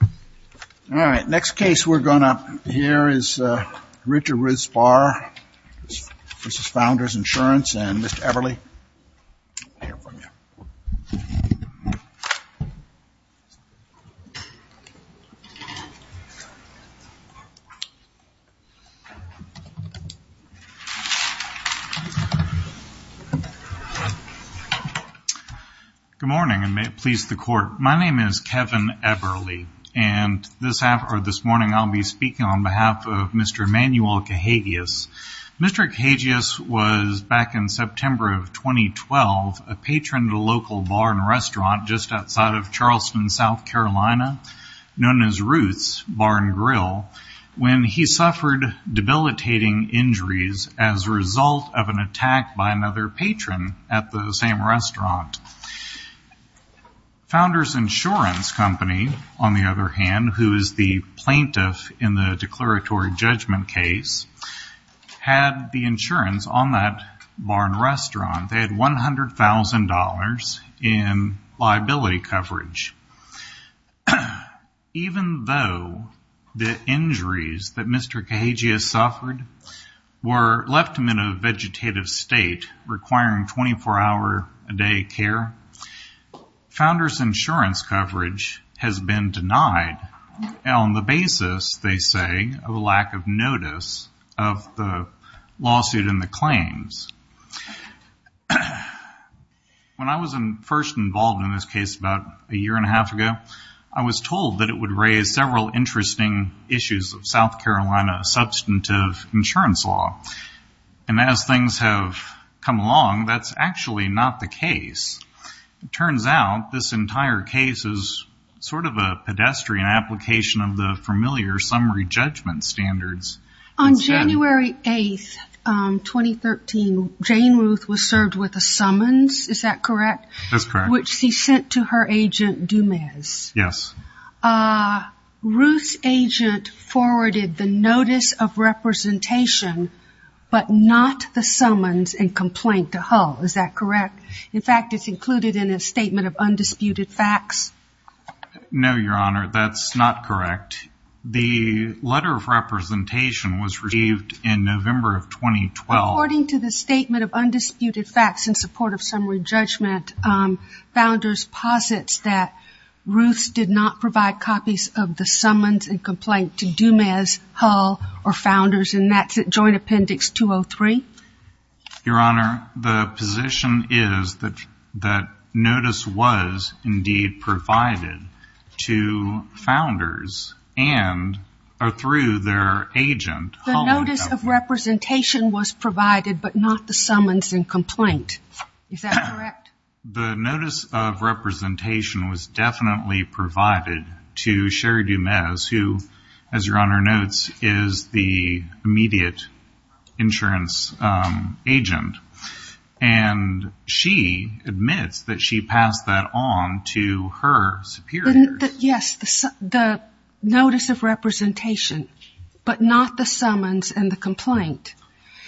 All right, next case we're going to hear is Richard Ruth's Bar v. Founders Insurance and Mr. Eberle. Good morning and may it please the Court. My name is Kevin Eberle and this morning I'll be speaking on behalf of Mr. Emanuel Cahagias. Mr. Cahagias was, back in September of 2012, a patron to a local bar and restaurant just outside of Charleston, South Carolina, known as Ruth's Bar & Grill, when he suffered debilitating injuries as a result of an attack by another patron at the same restaurant. Founders Insurance Company, on the other hand, who is the plaintiff in the declaratory judgment case, had the insurance on that bar and restaurant. They had $100,000 in liability coverage. Even though the injuries that Mr. Cahagias suffered left him in a vegetative state requiring 24-hour-a-day care, Founders Insurance coverage has been denied on the basis, they say, of a lack of notice of the lawsuit and the claims. When I was first involved in this case about a year and a half ago, I was told that it would raise several interesting issues of South Carolina substantive insurance law. And as things have come along, that's actually not the case. It turns out this entire case is sort of a pedestrian application of the familiar summary judgment standards. On January 8, 2013, Jane Ruth was served with a summons, is that correct? That's correct. Which she sent to her agent, Dumez. Yes. Ruth's agent forwarded the notice of representation, but not the summons and complaint to Hull, is that correct? In fact, it's included in a statement of undisputed facts. No, Your Honor, that's not correct. The letter of representation was received in November of 2012. According to the statement of undisputed facts in support of summary judgment, Founders posits that Ruth did not provide copies of the summons and complaint to Dumez, Hull, or Founders, and that's at Joint Appendix 203. Your Honor, the position is that notice was indeed provided to Founders and through their agent, Hull. The notice of representation was provided, but not the summons and complaint. Is that correct? The notice of representation was definitely provided to Sherry Dumez, who, as Your Honor notes, is the immediate insurance agent, and she admits that she passed that on to her superior. Yes, the notice of representation, but not the summons and the complaint.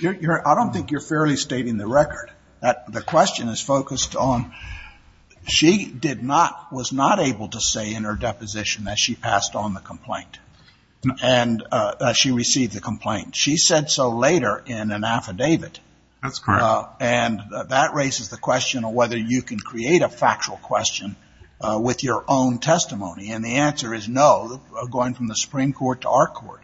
Your Honor, I don't think you're fairly stating the record. The question is focused on she did not, was not able to say in her deposition that she passed on the complaint and that she received the complaint. She said so later in an affidavit. That's correct. And that raises the question of whether you can create a factual question with your own testimony, and the answer is no, going from the Supreme Court to our court,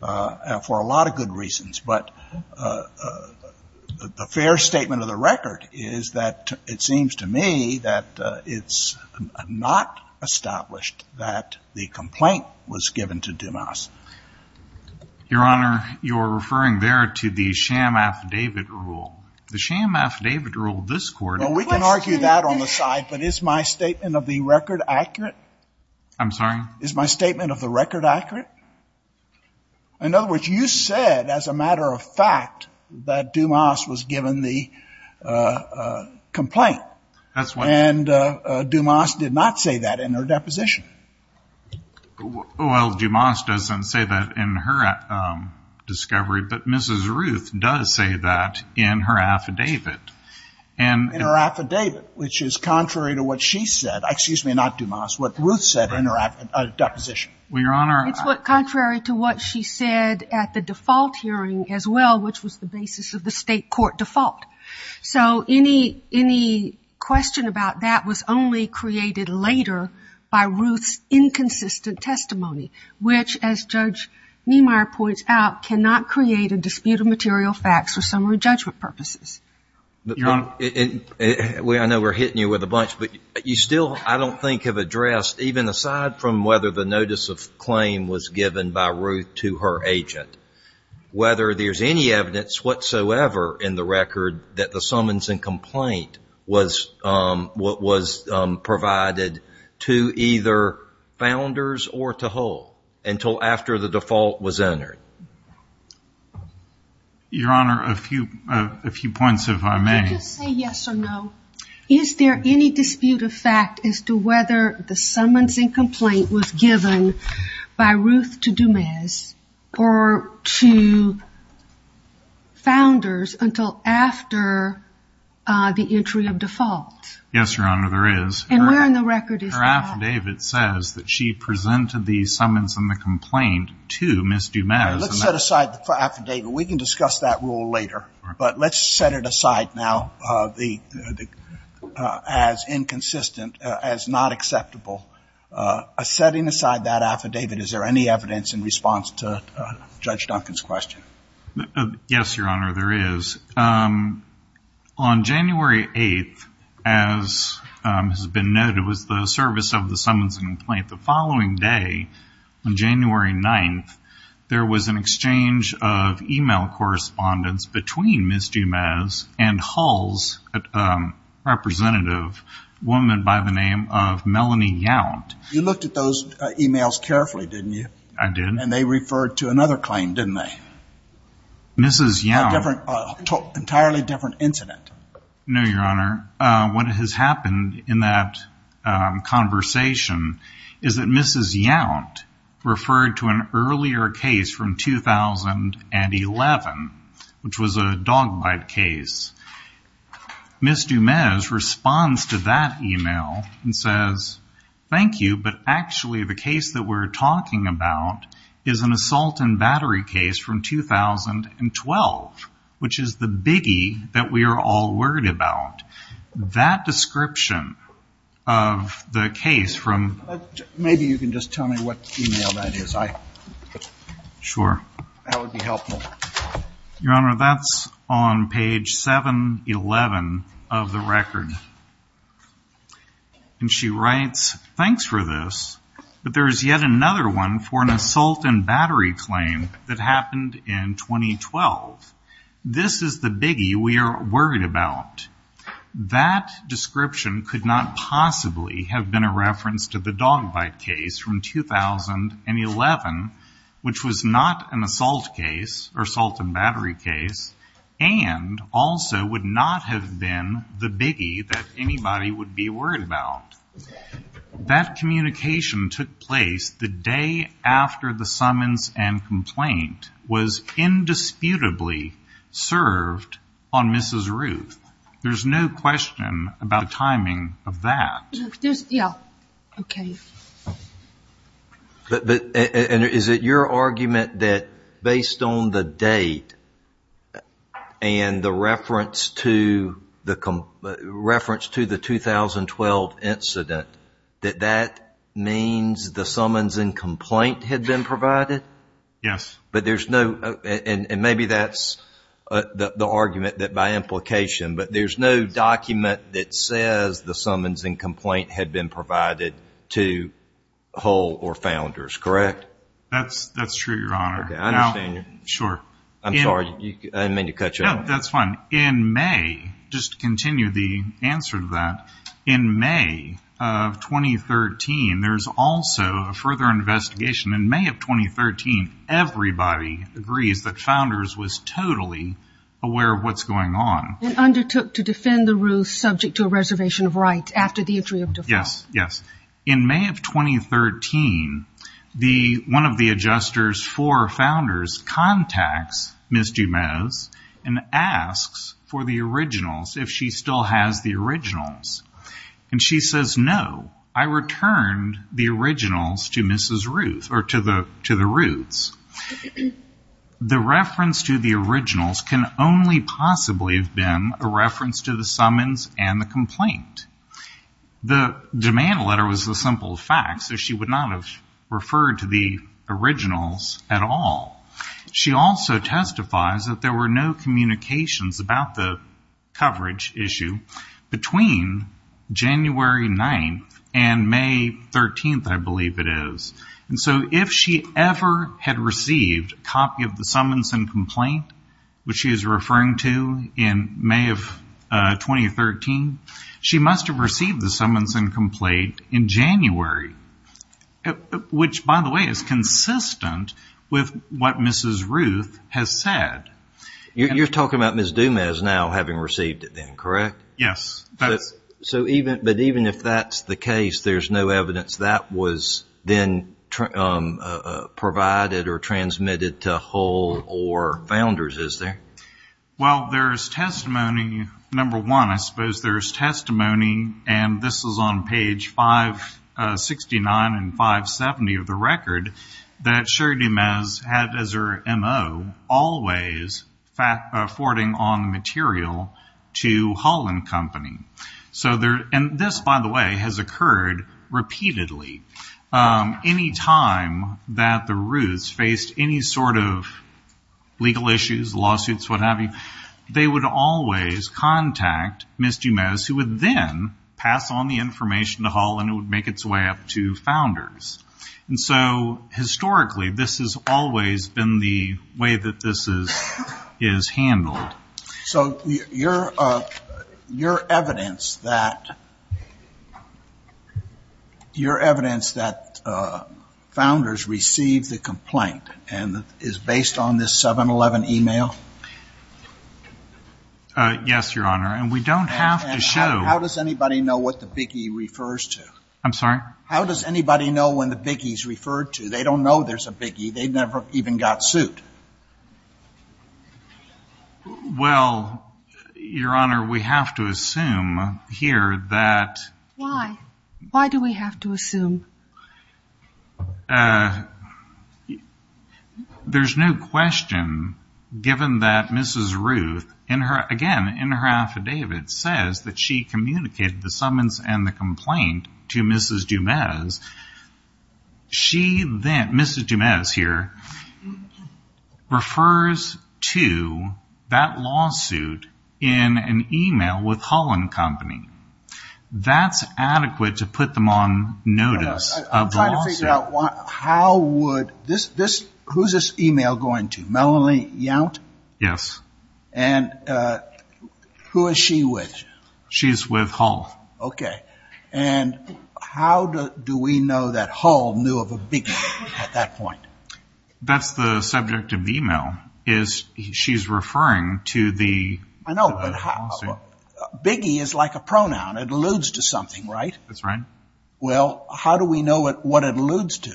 for a lot of good reasons. But the fair statement of the record is that it seems to me that it's not established that the complaint was given to Dumez. Your Honor, you're referring there to the sham affidavit rule. The sham affidavit rule of this Court is the same. Well, we can argue that on the side, but is my statement of the record accurate? I'm sorry? Is my statement of the record accurate? In other words, you said as a matter of fact that Dumez was given the complaint. And Dumez did not say that in her deposition. Well, Dumez doesn't say that in her discovery, but Mrs. Ruth does say that in her affidavit. In her affidavit, which is contrary to what she said. Excuse me, not Dumez. What Ruth said in her deposition. Well, Your Honor. It's contrary to what she said at the default hearing as well, which was the basis of the State court default. So any question about that was only created later by Ruth's inconsistent testimony, which, as Judge Niemeyer points out, cannot create a dispute of material facts for summary judgment purposes. Your Honor. I know we're hitting you with a bunch, but you still, I don't think, have addressed, even aside from whether the notice of claim was given by Ruth to her agent, whether there's any evidence whatsoever in the record that the summons and complaint was provided to either founders or to Hull until after the default was entered. Your Honor, a few points if I may. Did you say yes or no? Is there any dispute of fact as to whether the summons and complaint was given by Ruth to Dumez or to founders until after the entry of default? Yes, Your Honor, there is. And where in the record is that? Her affidavit says that she presented the summons and the complaint to Ms. Dumez. Let's set aside the affidavit. We can discuss that rule later. But let's set it aside now as inconsistent, as not acceptable. Setting aside that affidavit, is there any evidence in response to Judge Duncan's question? Yes, Your Honor, there is. On January 8th, as has been noted, was the service of the summons and complaint. The following day, on January 9th, there was an exchange of e-mail correspondence between Ms. Dumez and Hull's representative, a woman by the name of Melanie Yount. You looked at those e-mails carefully, didn't you? I did. And they referred to another claim, didn't they? Mrs. Yount. An entirely different incident. No, Your Honor. What has happened in that conversation is that Mrs. Yount referred to an earlier case from 2011, which was a dog bite case. Ms. Dumez responds to that e-mail and says, Thank you, but actually the case that we're talking about is an assault and battery case from 2012, which is the biggie that we are all worried about. That description of the case from Maybe you can just tell me what e-mail that is. Sure. That would be helpful. Your Honor, that's on page 711 of the record. And she writes, Thanks for this, but there is yet another one for an assault and battery claim that happened in 2012. This is the biggie we are worried about. That description could not possibly have been a reference to the dog bite case from 2011, which was not an assault case or assault and battery case, and also would not have been the biggie that anybody would be worried about. That communication took place the day after the summons and complaint was indisputably served on Mrs. Ruth. There's no question about the timing of that. Yeah. Okay. Is it your argument that based on the date and the reference to the 2012 incident, that that means the summons and complaint had been provided? Yes. And maybe that's the argument that by implication, but there's no document that says the summons and complaint had been provided to Hull or Founders, correct? That's true, Your Honor. Okay. I understand. Sure. I'm sorry. I didn't mean to cut you off. No, that's fine. In May, just to continue the answer to that, in May of 2013, there's also a further investigation. In May of 2013, everybody agrees that Founders was totally aware of what's going on. And undertook to defend the Ruths subject to a reservation of rights after the entry of default. Yes, yes. In May of 2013, one of the adjusters for Founders contacts Ms. Dumas and asks for the originals, if she still has the originals. And she says, no, I returned the originals to Mrs. Ruth or to the Ruths. The reference to the originals can only possibly have been a reference to the summons and the complaint. The demand letter was a simple fact, so she would not have referred to the originals at all. She also testifies that there were no communications about the coverage issue between January 9th and May 13th, I believe it is. And so if she ever had received a copy of the summons and complaint, which she is referring to in May of 2013, she must have received the summons and complaint in January. Which, by the way, is consistent with what Mrs. Ruth has said. You're talking about Ms. Dumas now having received it then, correct? Yes. But even if that's the case, there's no evidence that was then provided or transmitted to Hull or Founders, is there? Well, there's testimony, number one, I suppose there's testimony, and this is on page 569 and 570 of the record, that Sherry Dumas had as her M.O. always forwarding on material to Hull and Company. And this, by the way, has occurred repeatedly. Any time that the Ruths faced any sort of legal issues, lawsuits, what have you, they would always contact Ms. Dumas, who would then pass on the information to Hull and it would make its way up to Founders. And so historically, this has always been the way that this is handled. So your evidence that Founders received the complaint is based on this 7-11 e-mail? Yes, Your Honor, and we don't have to show. How does anybody know what the big E refers to? I'm sorry? How does anybody know when the big E is referred to? They don't know there's a big E. They've never even got suit. Well, Your Honor, we have to assume here that... Why? Why do we have to assume? There's no question given that Mrs. Ruth, again, in her affidavit, says that she communicated the summons and the complaint to Mrs. Dumas. Mrs. Dumas here refers to that lawsuit in an e-mail with Hull and Company. That's adequate to put them on notice of the lawsuit. I'm trying to figure out how would this... Who's this e-mail going to, Melanie Yount? Yes. And who is she with? She's with Hull. Okay. And how do we know that Hull knew of a big E at that point? That's the subject of the e-mail is she's referring to the lawsuit. I know, but big E is like a pronoun. It alludes to something, right? That's right. Well, how do we know what it alludes to?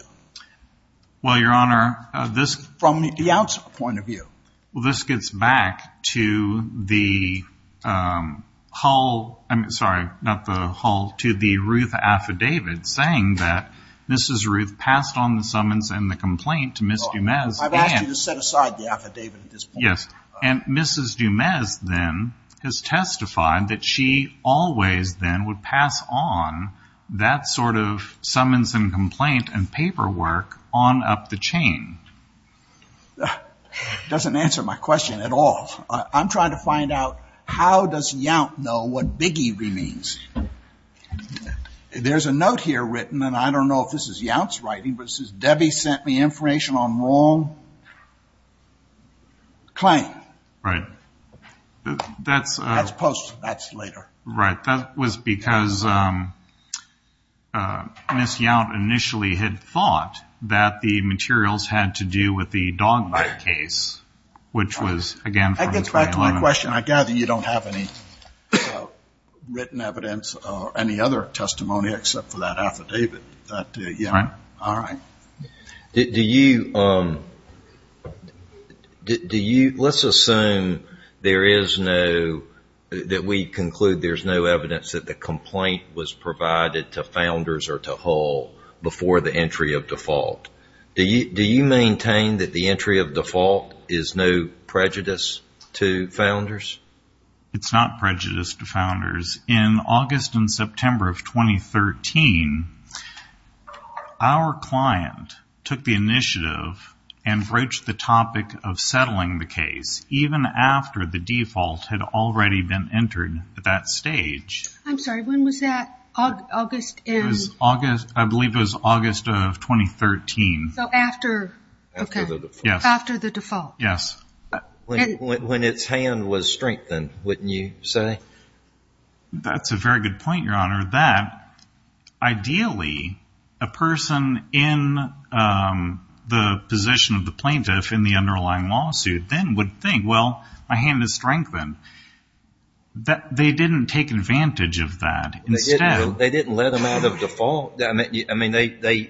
Well, Your Honor, this... From Yount's point of view. Well, this gets back to the Hull, I'm sorry, not the Hull, to the Ruth affidavit saying that Mrs. Ruth passed on the summons and the complaint to Mrs. Dumas and... I've asked you to set aside the affidavit at this point. Yes, and Mrs. Dumas then has testified that she always then would pass on that sort of summons and complaint and paperwork on up the chain. Doesn't answer my question at all. I'm trying to find out how does Yount know what big E means. There's a note here written, and I don't know if this is Yount's writing, but it says, Debbie sent me information on wrong claim. Right. That's post. That's later. Right. That was because Ms. Yount initially had thought that the materials had to do with the dog bite case, which was, again, from 2011. That gets back to my question. I gather you don't have any written evidence or any other testimony except for that affidavit. Right. All right. Let's assume that we conclude there's no evidence that the complaint was provided to founders or to Hull before the entry of default. Do you maintain that the entry of default is no prejudice to founders? It's not prejudice to founders. In August and September of 2013, our client took the initiative and broached the topic of settling the case, even after the default had already been entered at that stage. I'm sorry. When was that? August. I believe it was August of 2013. After the default. Yes. After the default. Yes. When its hand was strengthened, wouldn't you say? That's a very good point, Your Honor, that ideally a person in the position of the plaintiff in the underlying lawsuit then would think, well, my hand is strengthened. They didn't take advantage of that. They didn't let them out of default. I mean, they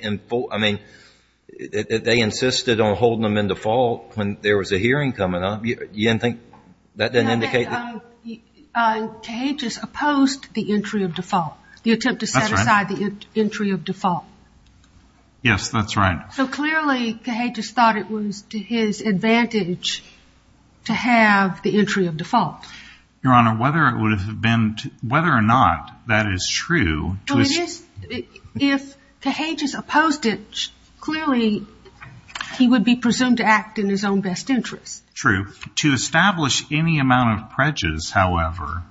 insisted on holding them in default when there was a hearing coming up. You didn't think that didn't indicate that? No, but Cahagias opposed the entry of default, the attempt to set aside the entry of default. Yes, that's right. So clearly Cahagias thought it was to his advantage to have the entry of default. Your Honor, whether or not that is true. Well, it is. If Cahagias opposed it, clearly he would be presumed to act in his own best interest. True. To establish any amount of prejudice, however,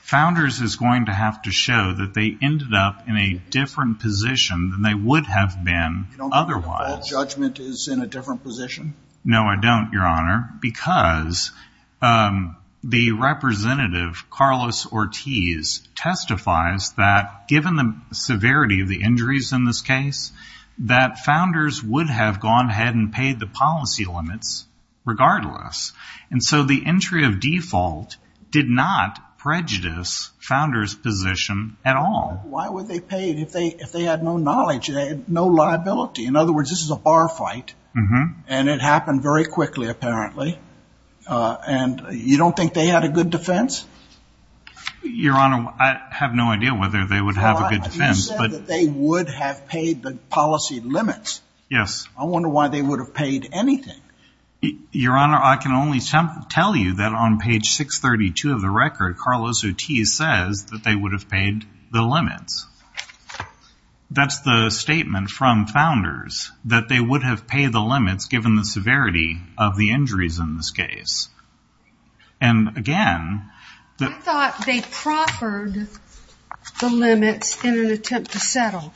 Founders is going to have to show that they ended up in a different position than they would have been otherwise. You don't think default judgment is in a different position? No, I don't, Your Honor, because the representative, Carlos Ortiz, testifies that given the severity of the injuries in this case, that Founders would have gone ahead and paid the policy limits regardless. And so the entry of default did not prejudice Founders' position at all. Why would they pay if they had no knowledge, no liability? In other words, this is a bar fight. And it happened very quickly, apparently. And you don't think they had a good defense? Your Honor, I have no idea whether they would have a good defense. You said that they would have paid the policy limits. Yes. I wonder why they would have paid anything. Your Honor, I can only tell you that on page 632 of the record, Carlos Ortiz says that they would have paid the limits. That's the statement from Founders, that they would have paid the limits given the severity of the injuries in this case. And, again, the... I thought they proffered the limits in an attempt to settle.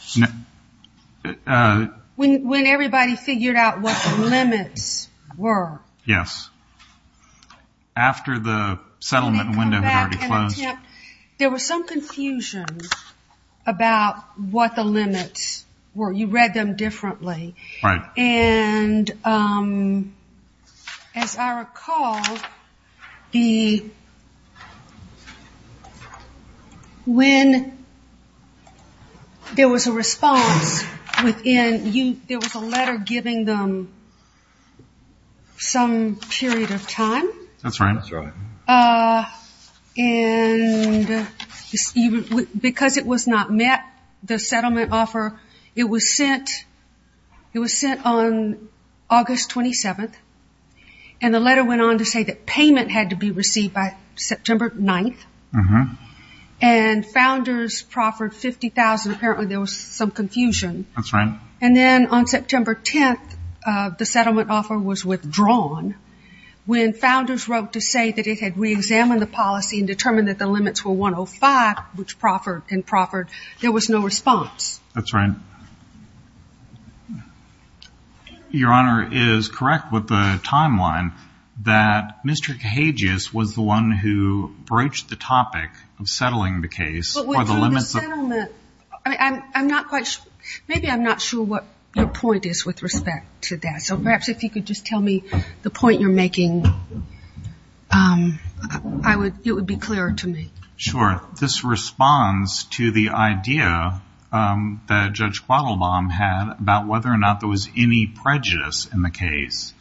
When everybody figured out what the limits were. Yes. After the settlement window had already closed. There was some confusion about what the limits were. You read them differently. Right. And, as I recall, when there was a response within you, there was a letter giving them some period of time. That's right. And because it was not met, the settlement offer, it was sent on August 27th, and the letter went on to say that payment had to be received by September 9th. Uh-huh. And Founders proffered $50,000. Apparently there was some confusion. That's right. And then on September 10th, the settlement offer was withdrawn. When Founders wrote to say that it had reexamined the policy and determined that the limits were 105, which proffered and proffered, there was no response. That's right. Your Honor is correct with the timeline that Mr. Kahages was the one who broached the topic of settling the case. But with the settlement, I'm not quite sure. Maybe I'm not sure what your point is with respect to that. So perhaps if you could just tell me the point you're making, it would be clearer to me. Sure. This responds to the idea that Judge Quattlebaum had about whether or not there was any prejudice in the case.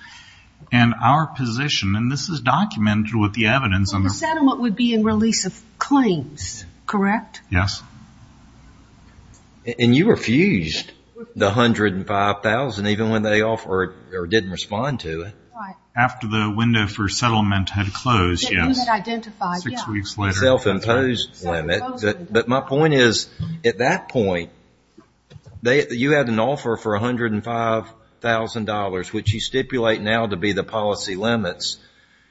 And our position, and this is documented with the evidence. Well, the settlement would be in release of claims, correct? Yes. And you refused the $105,000 even when they offered or didn't respond to it. Right. After the window for settlement had closed, yes. You had identified, yes. Six weeks later. Self-imposed limit. Self-imposed limit. But my point is at that point, you had an offer for $105,000, which you stipulate now to be the policy limits.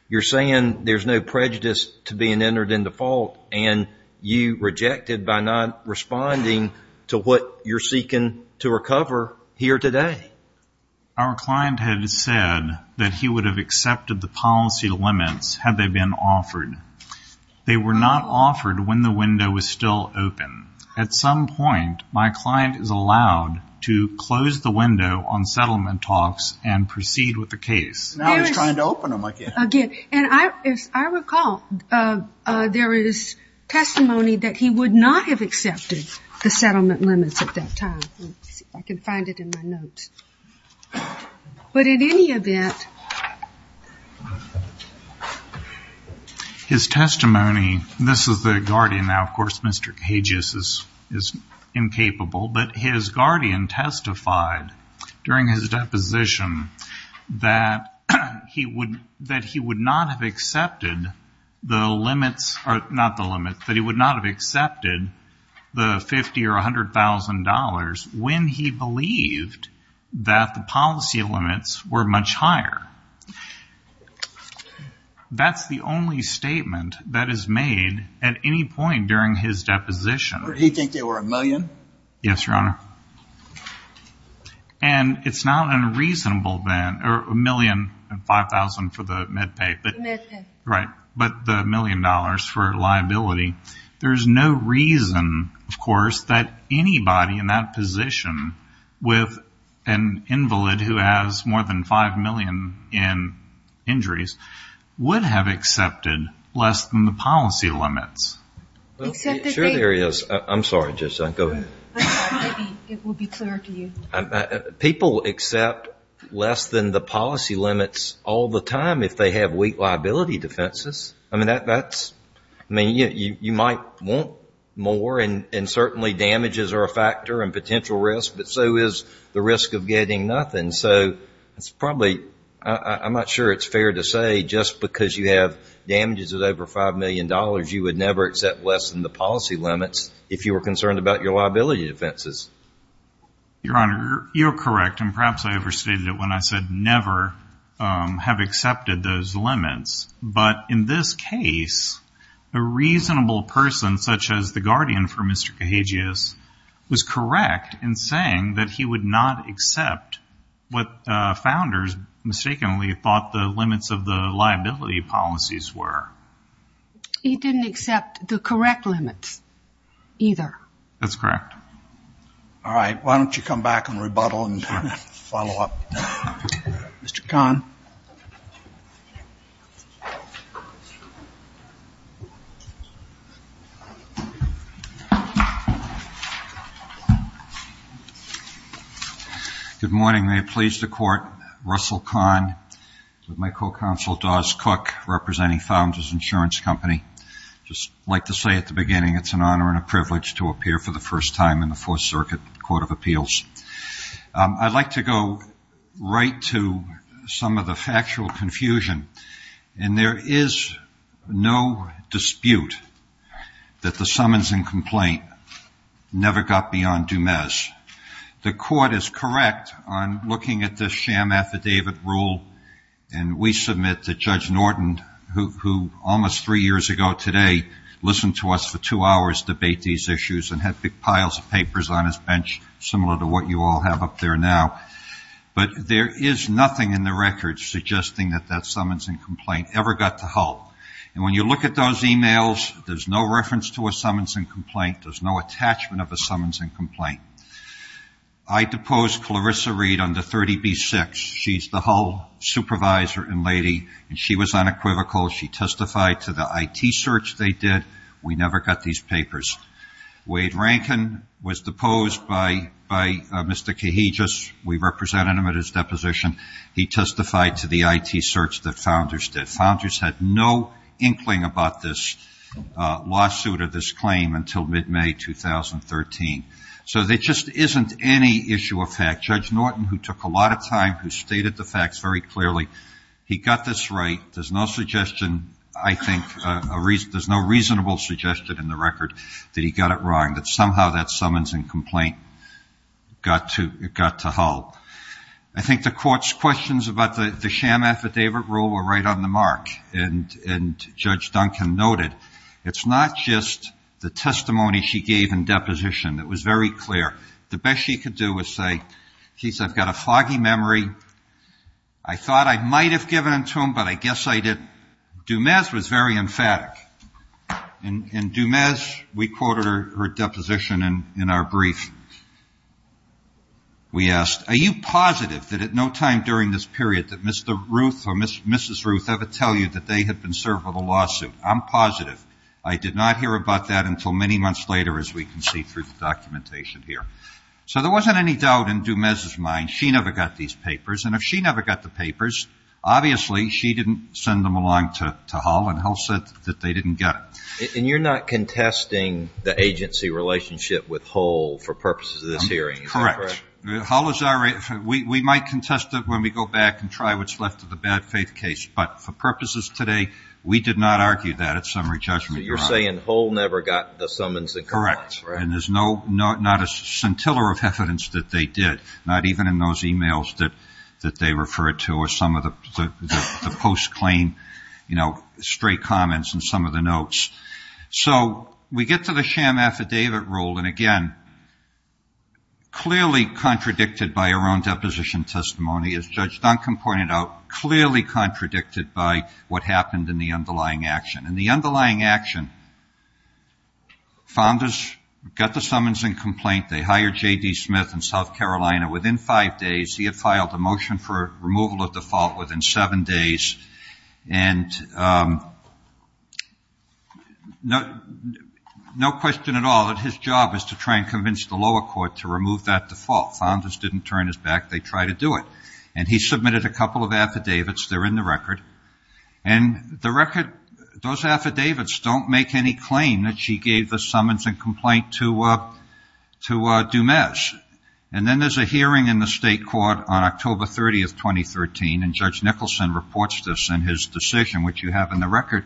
You're saying there's no prejudice to being entered in default, and you rejected by not responding to what you're seeking to recover here today. Our client had said that he would have accepted the policy limits had they been offered. They were not offered when the window was still open. At some point, my client is allowed to close the window on settlement talks and proceed with the case. Now he's trying to open them again. As I recall, there is testimony that he would not have accepted the settlement limits at that time. Let's see if I can find it in my notes. But in any event. His testimony, this is the guardian now. Of course, Mr. Kages is incapable. But his guardian testified during his deposition that he would not have accepted the limits, not the limits, that he would not have accepted the $50,000 or $100,000 when he believed that the policy limits were much higher. That's the only statement that is made at any point during his deposition. Did he think they were $1 million? Yes, Your Honor. And it's not unreasonable then, or $1 million and $5,000 for the med pay. The med pay. Right. But the $1 million for liability. There's no reason, of course, that anybody in that position with an invalid who has more than $5 million in injuries would have accepted less than the policy limits. Sure there is. I'm sorry. Go ahead. It will be clear to you. People accept less than the policy limits all the time if they have weak liability defenses. I mean, you might want more, and certainly damages are a factor and potential risk, but so is the risk of getting nothing. So it's probably, I'm not sure it's fair to say just because you have damages of over $5 million you would never accept less than the policy limits if you were concerned about your liability defenses. Your Honor, you're correct, and perhaps I overstated it when I said never have accepted those limits. But in this case, a reasonable person, such as the guardian for Mr. Cahagius, was correct in saying that he would not accept what founders mistakenly thought the limits of the liability policies were. He didn't accept the correct limits either. That's correct. All right. Why don't you come back and rebuttal and follow up. Mr. Kahn. Good morning. May it please the Court. Russell Kahn with my co-counsel, Dawes Cook, representing Founders Insurance Company. I'd just like to say at the beginning it's an honor and a privilege to appear for the first time in the Fourth Circuit Court of Appeals. I'd like to go right to some of the factual confusion, and there is no dispute that the summons and complaint never got beyond Dumez. The Court is correct on looking at this sham affidavit rule, and we submit that Judge Norton, who almost three years ago today listened to us for two hours to debate these issues and had big piles of papers on his bench similar to what you all have up there now. But there is nothing in the record suggesting that that summons and complaint ever got to Hull. And when you look at those emails, there's no reference to a summons and complaint. There's no attachment of a summons and complaint. I depose Clarissa Reed on the 30B6. She's the Hull supervisor and lady, and she was unequivocal. She testified to the IT search they did. We never got these papers. Wade Rankin was deposed by Mr. Kahijus. We represented him at his deposition. He testified to the IT search that Founders did. Founders had no inkling about this lawsuit or this claim until mid-May 2013. So there just isn't any issue of fact. Judge Norton, who took a lot of time, who stated the facts very clearly, he got this right. There's no suggestion, I think, there's no reasonable suggestion in the record that he got it wrong, that somehow that summons and complaint got to Hull. I think the Court's questions about the sham affidavit rule were right on the mark. And Judge Duncan noted it's not just the testimony she gave in deposition that was very clear. The best she could do was say, she said, I've got a foggy memory. I thought I might have given it to him, but I guess I didn't. Dumas was very emphatic. And Dumas, we quoted her deposition in our brief. We asked, are you positive that at no time during this period that Mr. Ruth or Mrs. Ruth ever tell you that they had been served with a lawsuit? I'm positive. I did not hear about that until many months later, as we can see through the documentation here. So there wasn't any doubt in Dumas' mind. She never got these papers. And if she never got the papers, obviously she didn't send them along to Hull, and Hull said that they didn't get it. And you're not contesting the agency relationship with Hull for purposes of this hearing? Correct. Hull is our agency. We might contest it when we go back and try what's left of the bad faith case. But for purposes today, we did not argue that at summary judgment. So you're saying Hull never got the summons and complaints? Correct. And there's not a scintilla of evidence that they did, not even in those e-mails that they referred to or some of the post-claim, you know, straight comments in some of the notes. So we get to the sham affidavit rule, and, again, clearly contradicted by her own deposition testimony, as Judge Duncan pointed out, clearly contradicted by what happened in the underlying action. In the underlying action, founders got the summons and complaint. They hired J.D. Smith in South Carolina. Within five days, he had filed a motion for removal of default within seven days. And no question at all that his job is to try and convince the lower court to remove that default. Founders didn't turn his back. They tried to do it. And he submitted a couple of affidavits. They're in the record. And the record, those affidavits don't make any claim that she gave the summons and complaint to Dumas. And then there's a hearing in the state court on October 30th, 2013, and Judge Nicholson reports this in his decision, which you have in the record.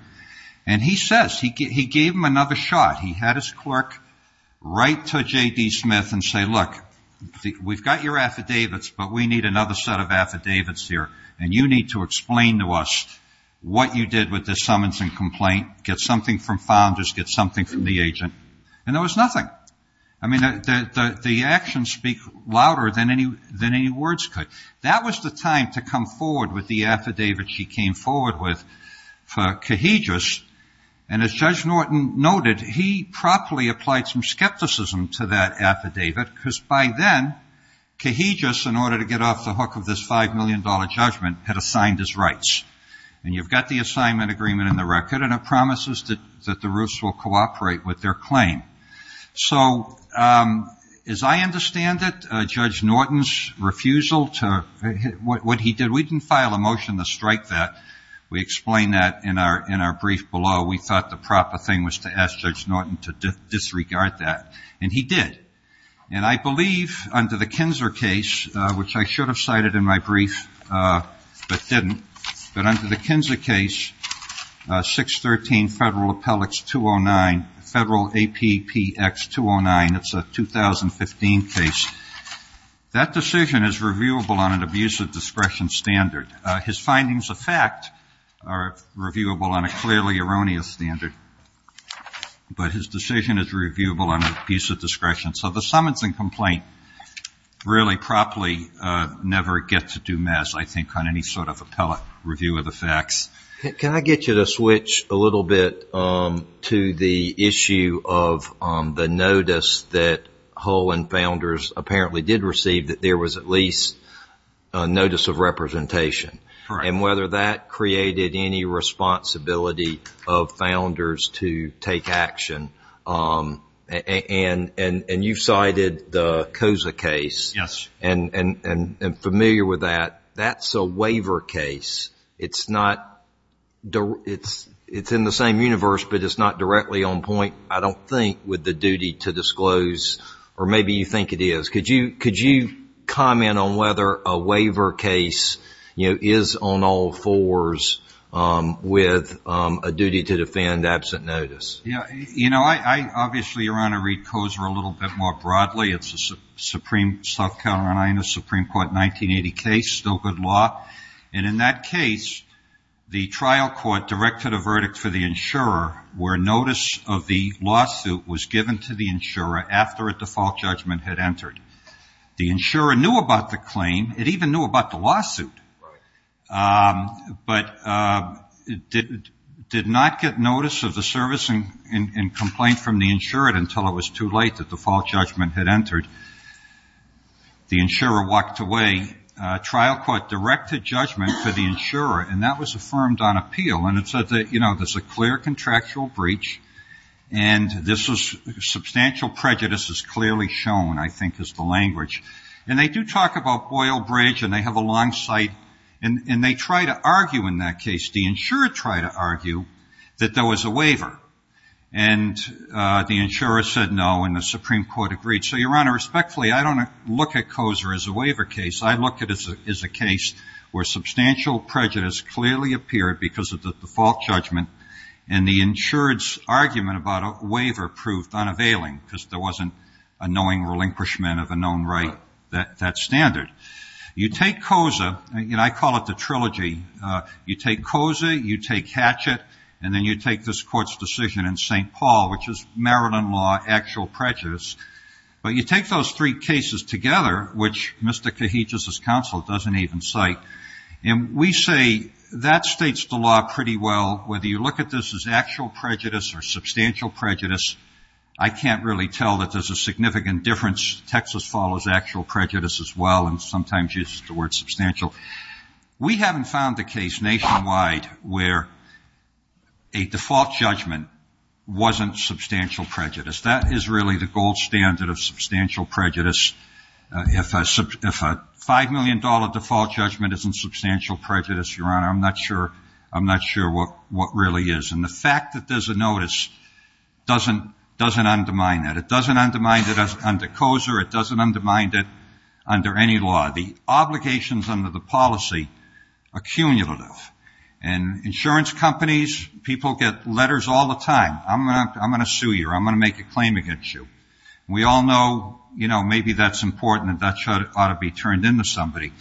And he says, he gave him another shot. He had his clerk write to J.D. Smith and say, look, we've got your affidavits, but we need another set of affidavits here, and you need to explain to us what you did with the summons and complaint. Get something from founders. Get something from the agent. And there was nothing. I mean, the actions speak louder than any words could. That was the time to come forward with the affidavit she came forward with for Cajigas. And as Judge Norton noted, he properly applied some skepticism to that affidavit, because by then Cajigas, in order to get off the hook of this $5 million judgment, had assigned his rights. And you've got the assignment agreement in the record, and it promises that the Roofs will cooperate with their claim. So as I understand it, Judge Norton's refusal to what he did, we didn't file a motion to strike that. We explained that in our brief below. We thought the proper thing was to ask Judge Norton to disregard that, and he did. And I believe under the Kinzer case, which I should have cited in my brief but didn't, but under the Kinzer case, 613 Federal Appellate 209, Federal APPX 209, that's a 2015 case, that decision is reviewable on an abuse of discretion standard. His findings of fact are reviewable on a clearly erroneous standard, but his decision is reviewable on abuse of discretion. So the summons and complaint really properly never gets a due mess, I think, on any sort of appellate review of the facts. Can I get you to switch a little bit to the issue of the notice that Hull and Founders apparently did receive, that there was at least a notice of representation, and whether that created any responsibility of Founders to take action. And you cited the COSA case. Yes. And I'm familiar with that. That's a waiver case. It's in the same universe, but it's not directly on point, I don't think, with the duty to disclose, or maybe you think it is. Could you comment on whether a waiver case is on all fours with a duty to defend absent notice? You know, I obviously, Your Honor, read COSA a little bit more broadly. It's a Supreme Court 1980 case, still good law. And in that case, the trial court directed a verdict for the insurer where notice of the lawsuit was given to the insurer after a default judgment had entered. The insurer knew about the claim. It even knew about the lawsuit. But did not get notice of the service and complaint from the insurer until it was too late, the default judgment had entered. The insurer walked away. Trial court directed judgment for the insurer, and that was affirmed on appeal. There's a clear contractual breach, and substantial prejudice is clearly shown, I think, is the language. And they do talk about Boyle Bridge, and they have a long sight, and they try to argue in that case, the insurer tried to argue that there was a waiver. And the insurer said no, and the Supreme Court agreed. So, Your Honor, respectfully, I don't look at COSA as a waiver case. I look at it as a case where substantial prejudice clearly appeared because of the default judgment, and the insurer's argument about a waiver proved unavailing because there wasn't a knowing relinquishment of a known right, that standard. You take COSA, and I call it the trilogy. You take COSA, you take Hatchett, and then you take this court's decision in St. Paul, which is Maryland law actual prejudice. But you take those three cases together, which Mr. Cajitius's counsel doesn't even cite, and we say that states the law pretty well, whether you look at this as actual prejudice or substantial prejudice. I can't really tell that there's a significant difference. Texas follows actual prejudice as well, and sometimes uses the word substantial. We haven't found a case nationwide where a default judgment wasn't substantial prejudice. That is really the gold standard of substantial prejudice. If a $5 million default judgment isn't substantial prejudice, Your Honor, I'm not sure what really is. And the fact that there's a notice doesn't undermine that. It doesn't undermine it under COSA. It doesn't undermine it under any law. The obligations under the policy are cumulative. And insurance companies, people get letters all the time. I'm going to sue you or I'm going to make a claim against you. We all know, you know, maybe that's important and that ought to be turned into somebody.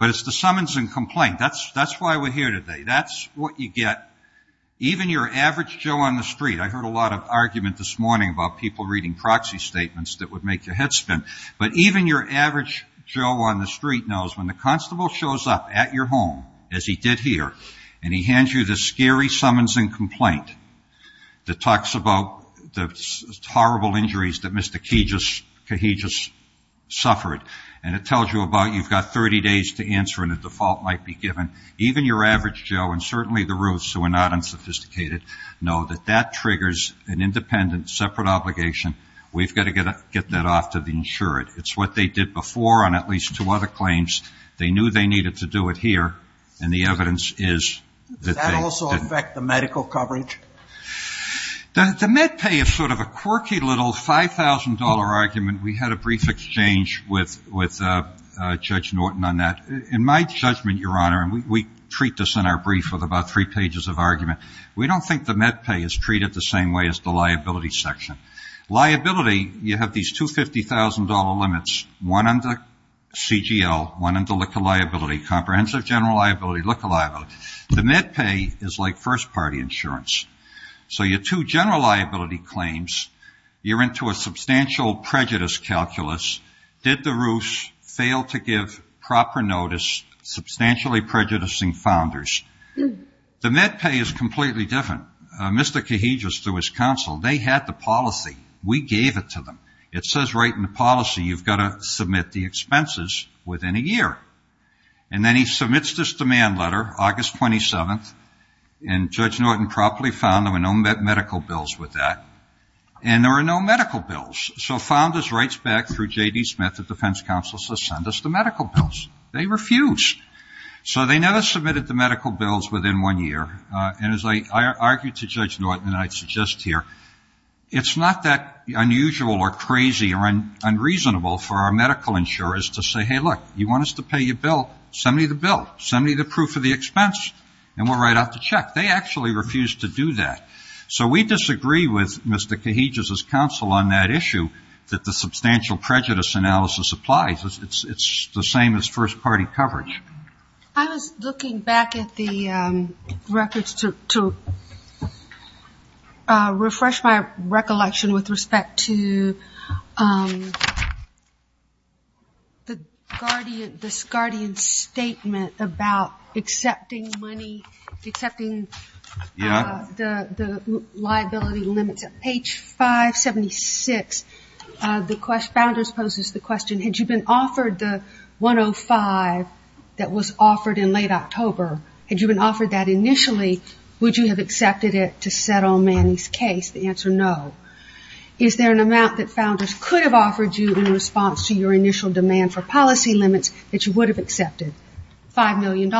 But it's the summons and complaint. That's why we're here today. That's what you get. Even your average Joe on the street, I heard a lot of argument this morning about people reading proxy statements that would make your head spin. But even your average Joe on the street knows when the constable shows up at your home, as he did here, and he hands you this scary summons and complaint that talks about the horrible injuries that Mr. Cajigas suffered, and it tells you about you've got 30 days to answer and a default might be given. Even your average Joe and certainly the Ruths, who are not unsophisticated, know that that triggers an independent, separate obligation. We've got to get that off to the insured. It's what they did before on at least two other claims. They knew they needed to do it here, and the evidence is that they didn't. Does that also affect the medical coverage? The MedPay is sort of a quirky little $5,000 argument. We had a brief exchange with Judge Norton on that. In my judgment, Your Honor, and we treat this in our brief with about three pages of argument, we don't think the MedPay is treated the same way as the liability section. Liability, you have these $250,000 limits, one under CGL, one under LICA liability, comprehensive general liability, LICA liability. The MedPay is like first-party insurance. So your two general liability claims, you're into a substantial prejudice calculus. Did the Ruths fail to give proper notice, substantially prejudicing founders? The MedPay is completely different. Mr. Kahidrus, through his counsel, they had the policy. We gave it to them. It says right in the policy you've got to submit the expenses within a year. And then he submits this demand letter, August 27th, and Judge Norton probably found there were no medical bills with that. And there were no medical bills. So founders writes back through J.D. Smith, the defense counsel, says send us the medical bills. They refused. So they never submitted the medical bills within one year. And as I argued to Judge Norton, and I suggest here, it's not that unusual or crazy or unreasonable for our medical insurers to say, hey, look, you want us to pay you a bill, send me the bill, send me the proof of the expense, and we'll write out the check. They actually refused to do that. So we disagree with Mr. Kahidrus' counsel on that issue, that the substantial prejudice analysis applies. It's the same as first-party coverage. I was looking back at the records to refresh my recollection with respect to the guardian, this guardian's statement about accepting money, accepting the liability limits. Page 576, the founders poses the question, had you been offered the 105 that was offered in late October, had you been offered that initially, would you have accepted it to settle Manny's case? The answer, no. Is there an amount that founders could have offered you in response to your initial demand for policy limits that you would have accepted, $5 million?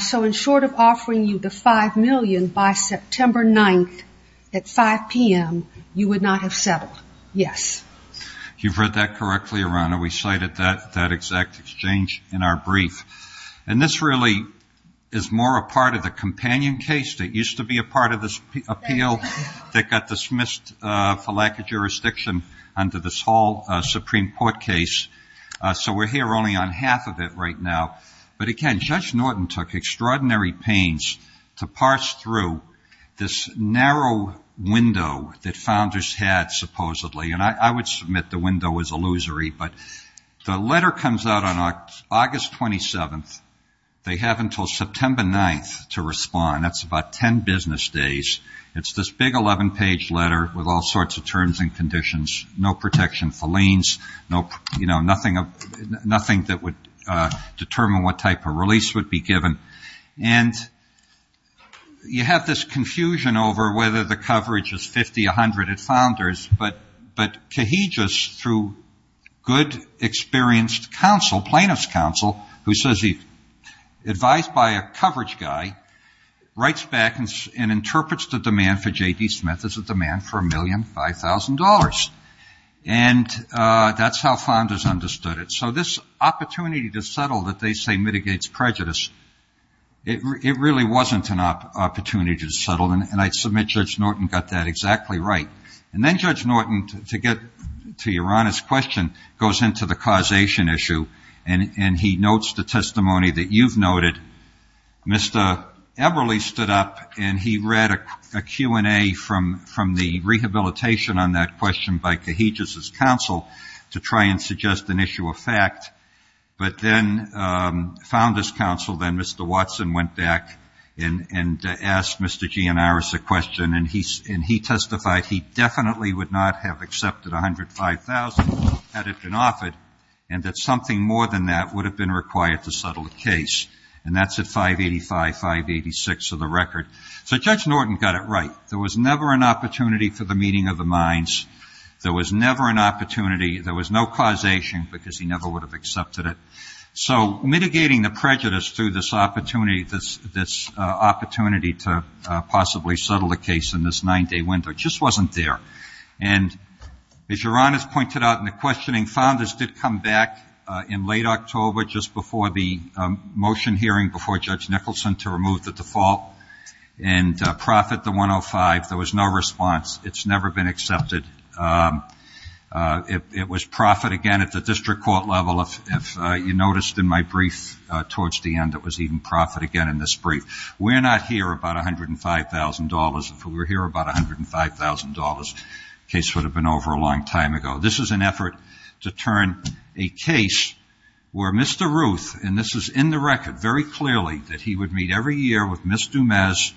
So in short of offering you the $5 million by September 9th at 5 p.m., you would not have settled. Yes. You've read that correctly, Your Honor. We cited that exact exchange in our brief. And this really is more a part of the companion case that used to be a part of this appeal that got dismissed for lack of jurisdiction under this whole Supreme Court case. So we're here only on half of it right now. But again, Judge Norton took extraordinary pains to parse through this narrow window that founders had supposedly. And I would submit the window was illusory. But the letter comes out on August 27th. They have until September 9th to respond. That's about 10 business days. It's this big 11-page letter with all sorts of terms and conditions. No protection for liens. You know, nothing that would determine what type of release would be given. And you have this confusion over whether the coverage is 50, 100 at founders. But Kahijus, through good, experienced counsel, plaintiff's counsel, who says he's advised by a coverage guy, writes back and interprets the demand for J.D. Smith as a demand for $1,005,000. And that's how founders understood it. So this opportunity to settle that they say mitigates prejudice, it really wasn't an opportunity to settle. And I submit Judge Norton got that exactly right. And then Judge Norton, to get to your honest question, goes into the causation issue. And he notes the testimony that you've noted. Mr. Eberly stood up and he read a Q&A from the rehabilitation on that question by Kahijus' counsel to try and suggest an issue of fact. But then founders' counsel, then Mr. Watson, went back and asked Mr. Gianaris a question. And he testified he definitely would not have accepted $105,000 had it been offered and that something more than that would have been required to settle the case. And that's at 585, 586 of the record. So Judge Norton got it right. There was never an opportunity for the meeting of the minds. There was never an opportunity. There was no causation because he never would have accepted it. So mitigating the prejudice through this opportunity to possibly settle the case in this nine-day window just wasn't there. And as your Honor's pointed out in the questioning, founders did come back in late October just before the motion hearing before Judge Nicholson to remove the default and profit the 105. There was no response. It's never been accepted. It was profit again at the district court level. If you noticed in my brief towards the end, it was even profit again in this brief. We're not here about $105,000. If we were here about $105,000, the case would have been over a long time ago. This is an effort to turn a case where Mr. Ruth, and this is in the record very clearly, that he would meet every year with Ms. Dumas.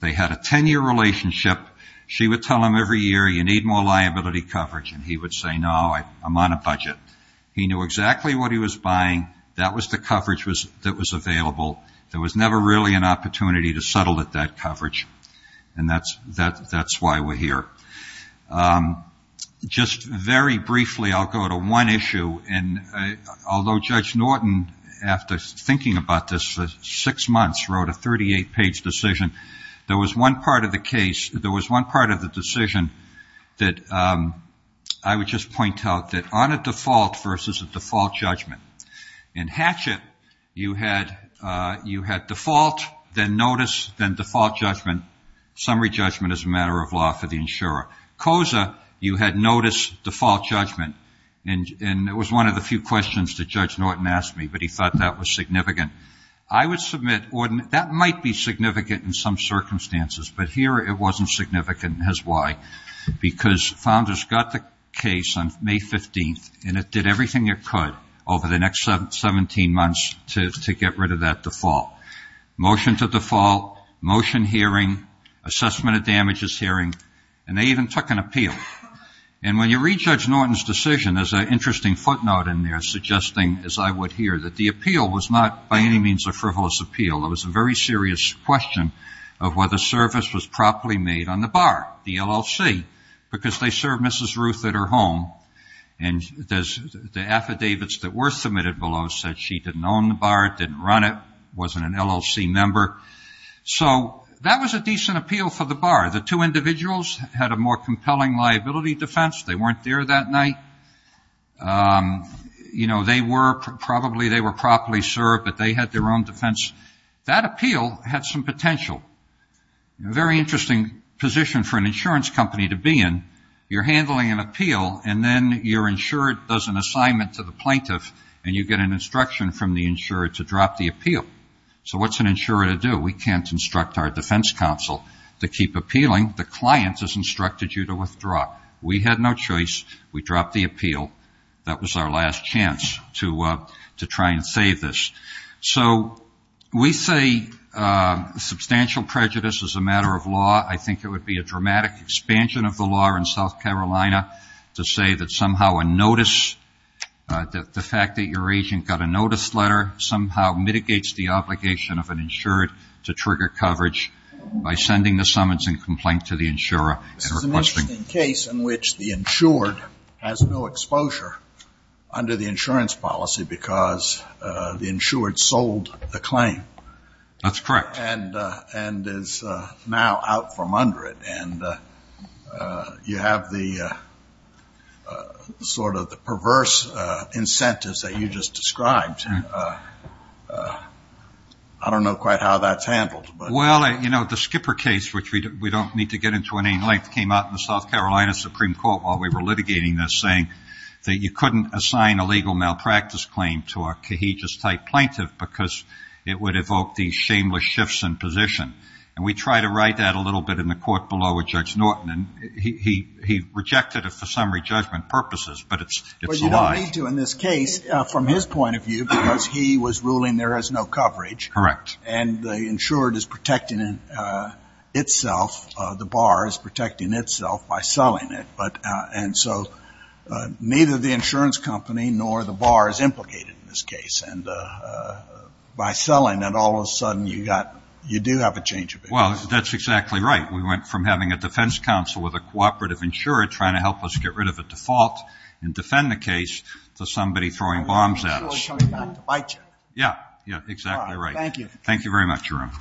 They had a 10-year relationship. She would tell him every year, you need more liability coverage. And he would say, no, I'm on a budget. He knew exactly what he was buying. That was the coverage that was available. There was never really an opportunity to settle at that coverage. And that's why we're here. Just very briefly, I'll go to one issue. And although Judge Norton, after thinking about this for six months, wrote a 38-page decision, there was one part of the case, there was one part of the decision that I would just point out, that on a default versus a default judgment. In Hatchett, you had default, then notice, then default judgment. Summary judgment is a matter of law for the insurer. COSA, you had notice, default judgment. And it was one of the few questions that Judge Norton asked me, but he thought that was significant. I would submit, that might be significant in some circumstances, but here it wasn't significant, and here's why. Because founders got the case on May 15th, and it did everything it could over the next 17 months to get rid of that default. Motion to default, motion hearing, assessment of damages hearing, and they even took an appeal. And when you read Judge Norton's decision, there's an interesting footnote in there suggesting, as I would hear, that the appeal was not by any means a frivolous appeal. It was a very serious question of whether service was properly made on the bar, the LLC, because they served Mrs. Ruth at her home, and the affidavits that were submitted below said she didn't own the bar, didn't run it, wasn't an LLC member. So that was a decent appeal for the bar. The two individuals had a more compelling liability defense. They weren't there that night. You know, they were probably, they were properly served, but they had their own defense. That appeal had some potential. A very interesting position for an insurance company to be in. You're handling an appeal, and then your insurer does an assignment to the plaintiff, and you get an instruction from the insurer to drop the appeal. So what's an insurer to do? We can't instruct our defense counsel to keep appealing. The client has instructed you to withdraw. We had no choice. We dropped the appeal. That was our last chance to try and save this. So we say substantial prejudice is a matter of law. I think it would be a dramatic expansion of the law in South Carolina to say that somehow a notice, the fact that your agent got a notice letter, somehow mitigates the obligation of an insurer to trigger coverage by sending the summons and complaint to the insurer. This is an interesting case in which the insured has no exposure under the insurance policy because the insured sold the claim. That's correct. And is now out from under it. And you have the sort of perverse incentives that you just described. I don't know quite how that's handled. Well, you know, the Skipper case, which we don't need to get into in any length, came out in the South Carolina Supreme Court while we were litigating this, saying that you couldn't assign a legal malpractice claim to a cohesive type plaintiff because it would evoke these shameless shifts in position. And we tried to write that a little bit in the court below with Judge Norton, and he rejected it for summary judgment purposes, but it's a lie. But you don't need to in this case from his point of view because he was ruling there is no coverage. Correct. And the insured is protecting itself, the bar is protecting itself by selling it. And so neither the insurance company nor the bar is implicated in this case. And by selling it, all of a sudden you do have a change of interest. Well, that's exactly right. We went from having a defense counsel with a cooperative insurer trying to help us get rid of a default and defend the case to somebody throwing bombs at us. And the insurer is coming back to bite you. Yeah, exactly right. Thank you. Thank you very much, Your Honor.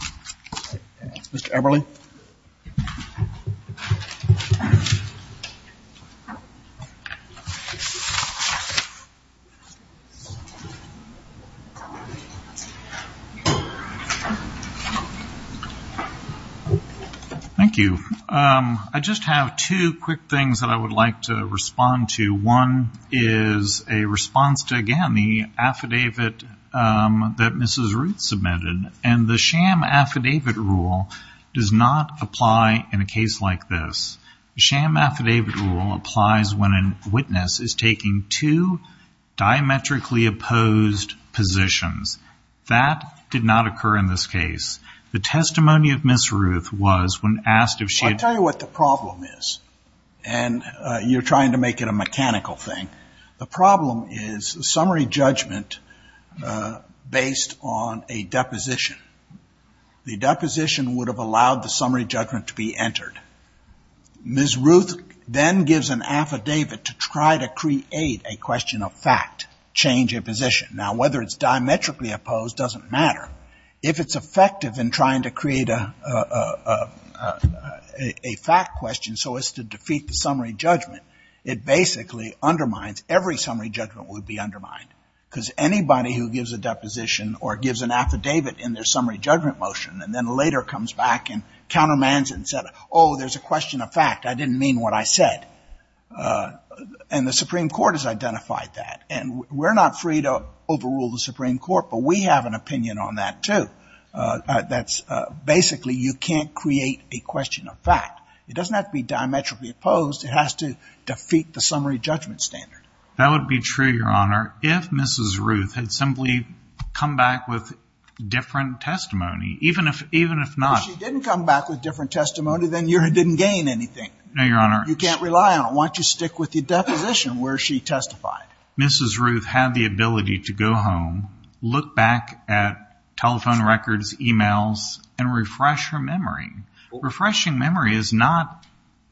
Mr. Eberle. Thank you. I just have two quick things that I would like to respond to. One is a response to, again, the affidavit that Mrs. Ruth submitted. And the sham affidavit rule does not apply in a case like this. The sham affidavit rule applies when a witness is taking two diametrically opposed positions. That did not occur in this case. The testimony of Ms. Ruth was when asked if she had ---- I'll tell you what the problem is. And you're trying to make it a mechanical thing. The problem is summary judgment based on a deposition. The deposition would have allowed the summary judgment to be entered. Ms. Ruth then gives an affidavit to try to create a question of fact, change of position. Now, whether it's diametrically opposed doesn't matter. If it's effective in trying to create a fact question so as to defeat the summary judgment, it basically undermines, every summary judgment would be undermined. Because anybody who gives a deposition or gives an affidavit in their summary judgment motion and then later comes back and countermands it and says, oh, there's a question of fact, I didn't mean what I said, and the Supreme Court has identified that. And we're not free to overrule the Supreme Court, but we have an opinion on that, too. That's basically you can't create a question of fact. It doesn't have to be diametrically opposed. It has to defeat the summary judgment standard. That would be true, Your Honor, if Mrs. Ruth had simply come back with different testimony. Even if not. If she didn't come back with different testimony, then you didn't gain anything. No, Your Honor. You can't rely on it. Why don't you stick with the deposition where she testified? Mrs. Ruth had the ability to go home, look back at telephone records, e-mails, and refresh her memory. Refreshing memory is not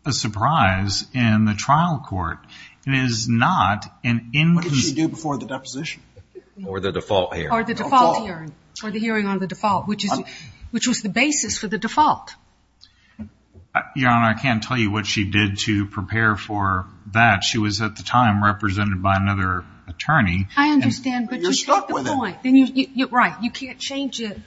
a surprise in the trial court. It is not an inconsistency. What did she do before the deposition? Or the default hearing. Or the default hearing. Or the hearing on the default, which was the basis for the default. Your Honor, I can't tell you what she did to prepare for that. She was, at the time, represented by another attorney. I understand. You're stuck with it. Right. You can't change it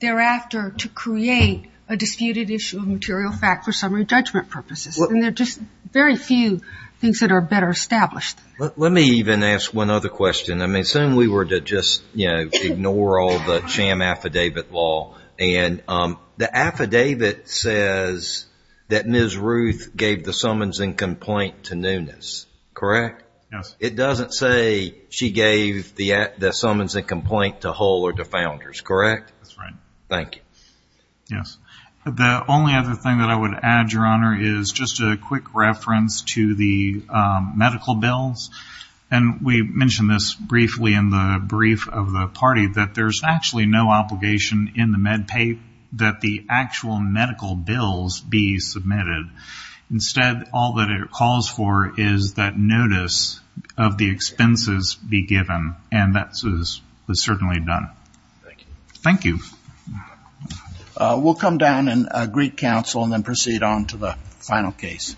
thereafter to create a disputed issue of material fact for summary judgment purposes. There are just very few things that are better established. Let me even ask one other question. I mean, assume we were to just ignore all the sham affidavit law. The affidavit says that Ms. Ruth gave the summons and complaint to Nunes, correct? Yes. It doesn't say she gave the summons and complaint to Hull or to Founders, correct? That's right. Thank you. The only other thing that I would add, Your Honor, is just a quick reference to the medical bills. And we mentioned this briefly in the brief of the party, that there's actually no obligation in the med pay that the actual medical bills be submitted. Instead, all that it calls for is that notice of the expenses be given. And that is certainly done. Thank you. Thank you. We'll come down and greet counsel and then proceed on to the final case.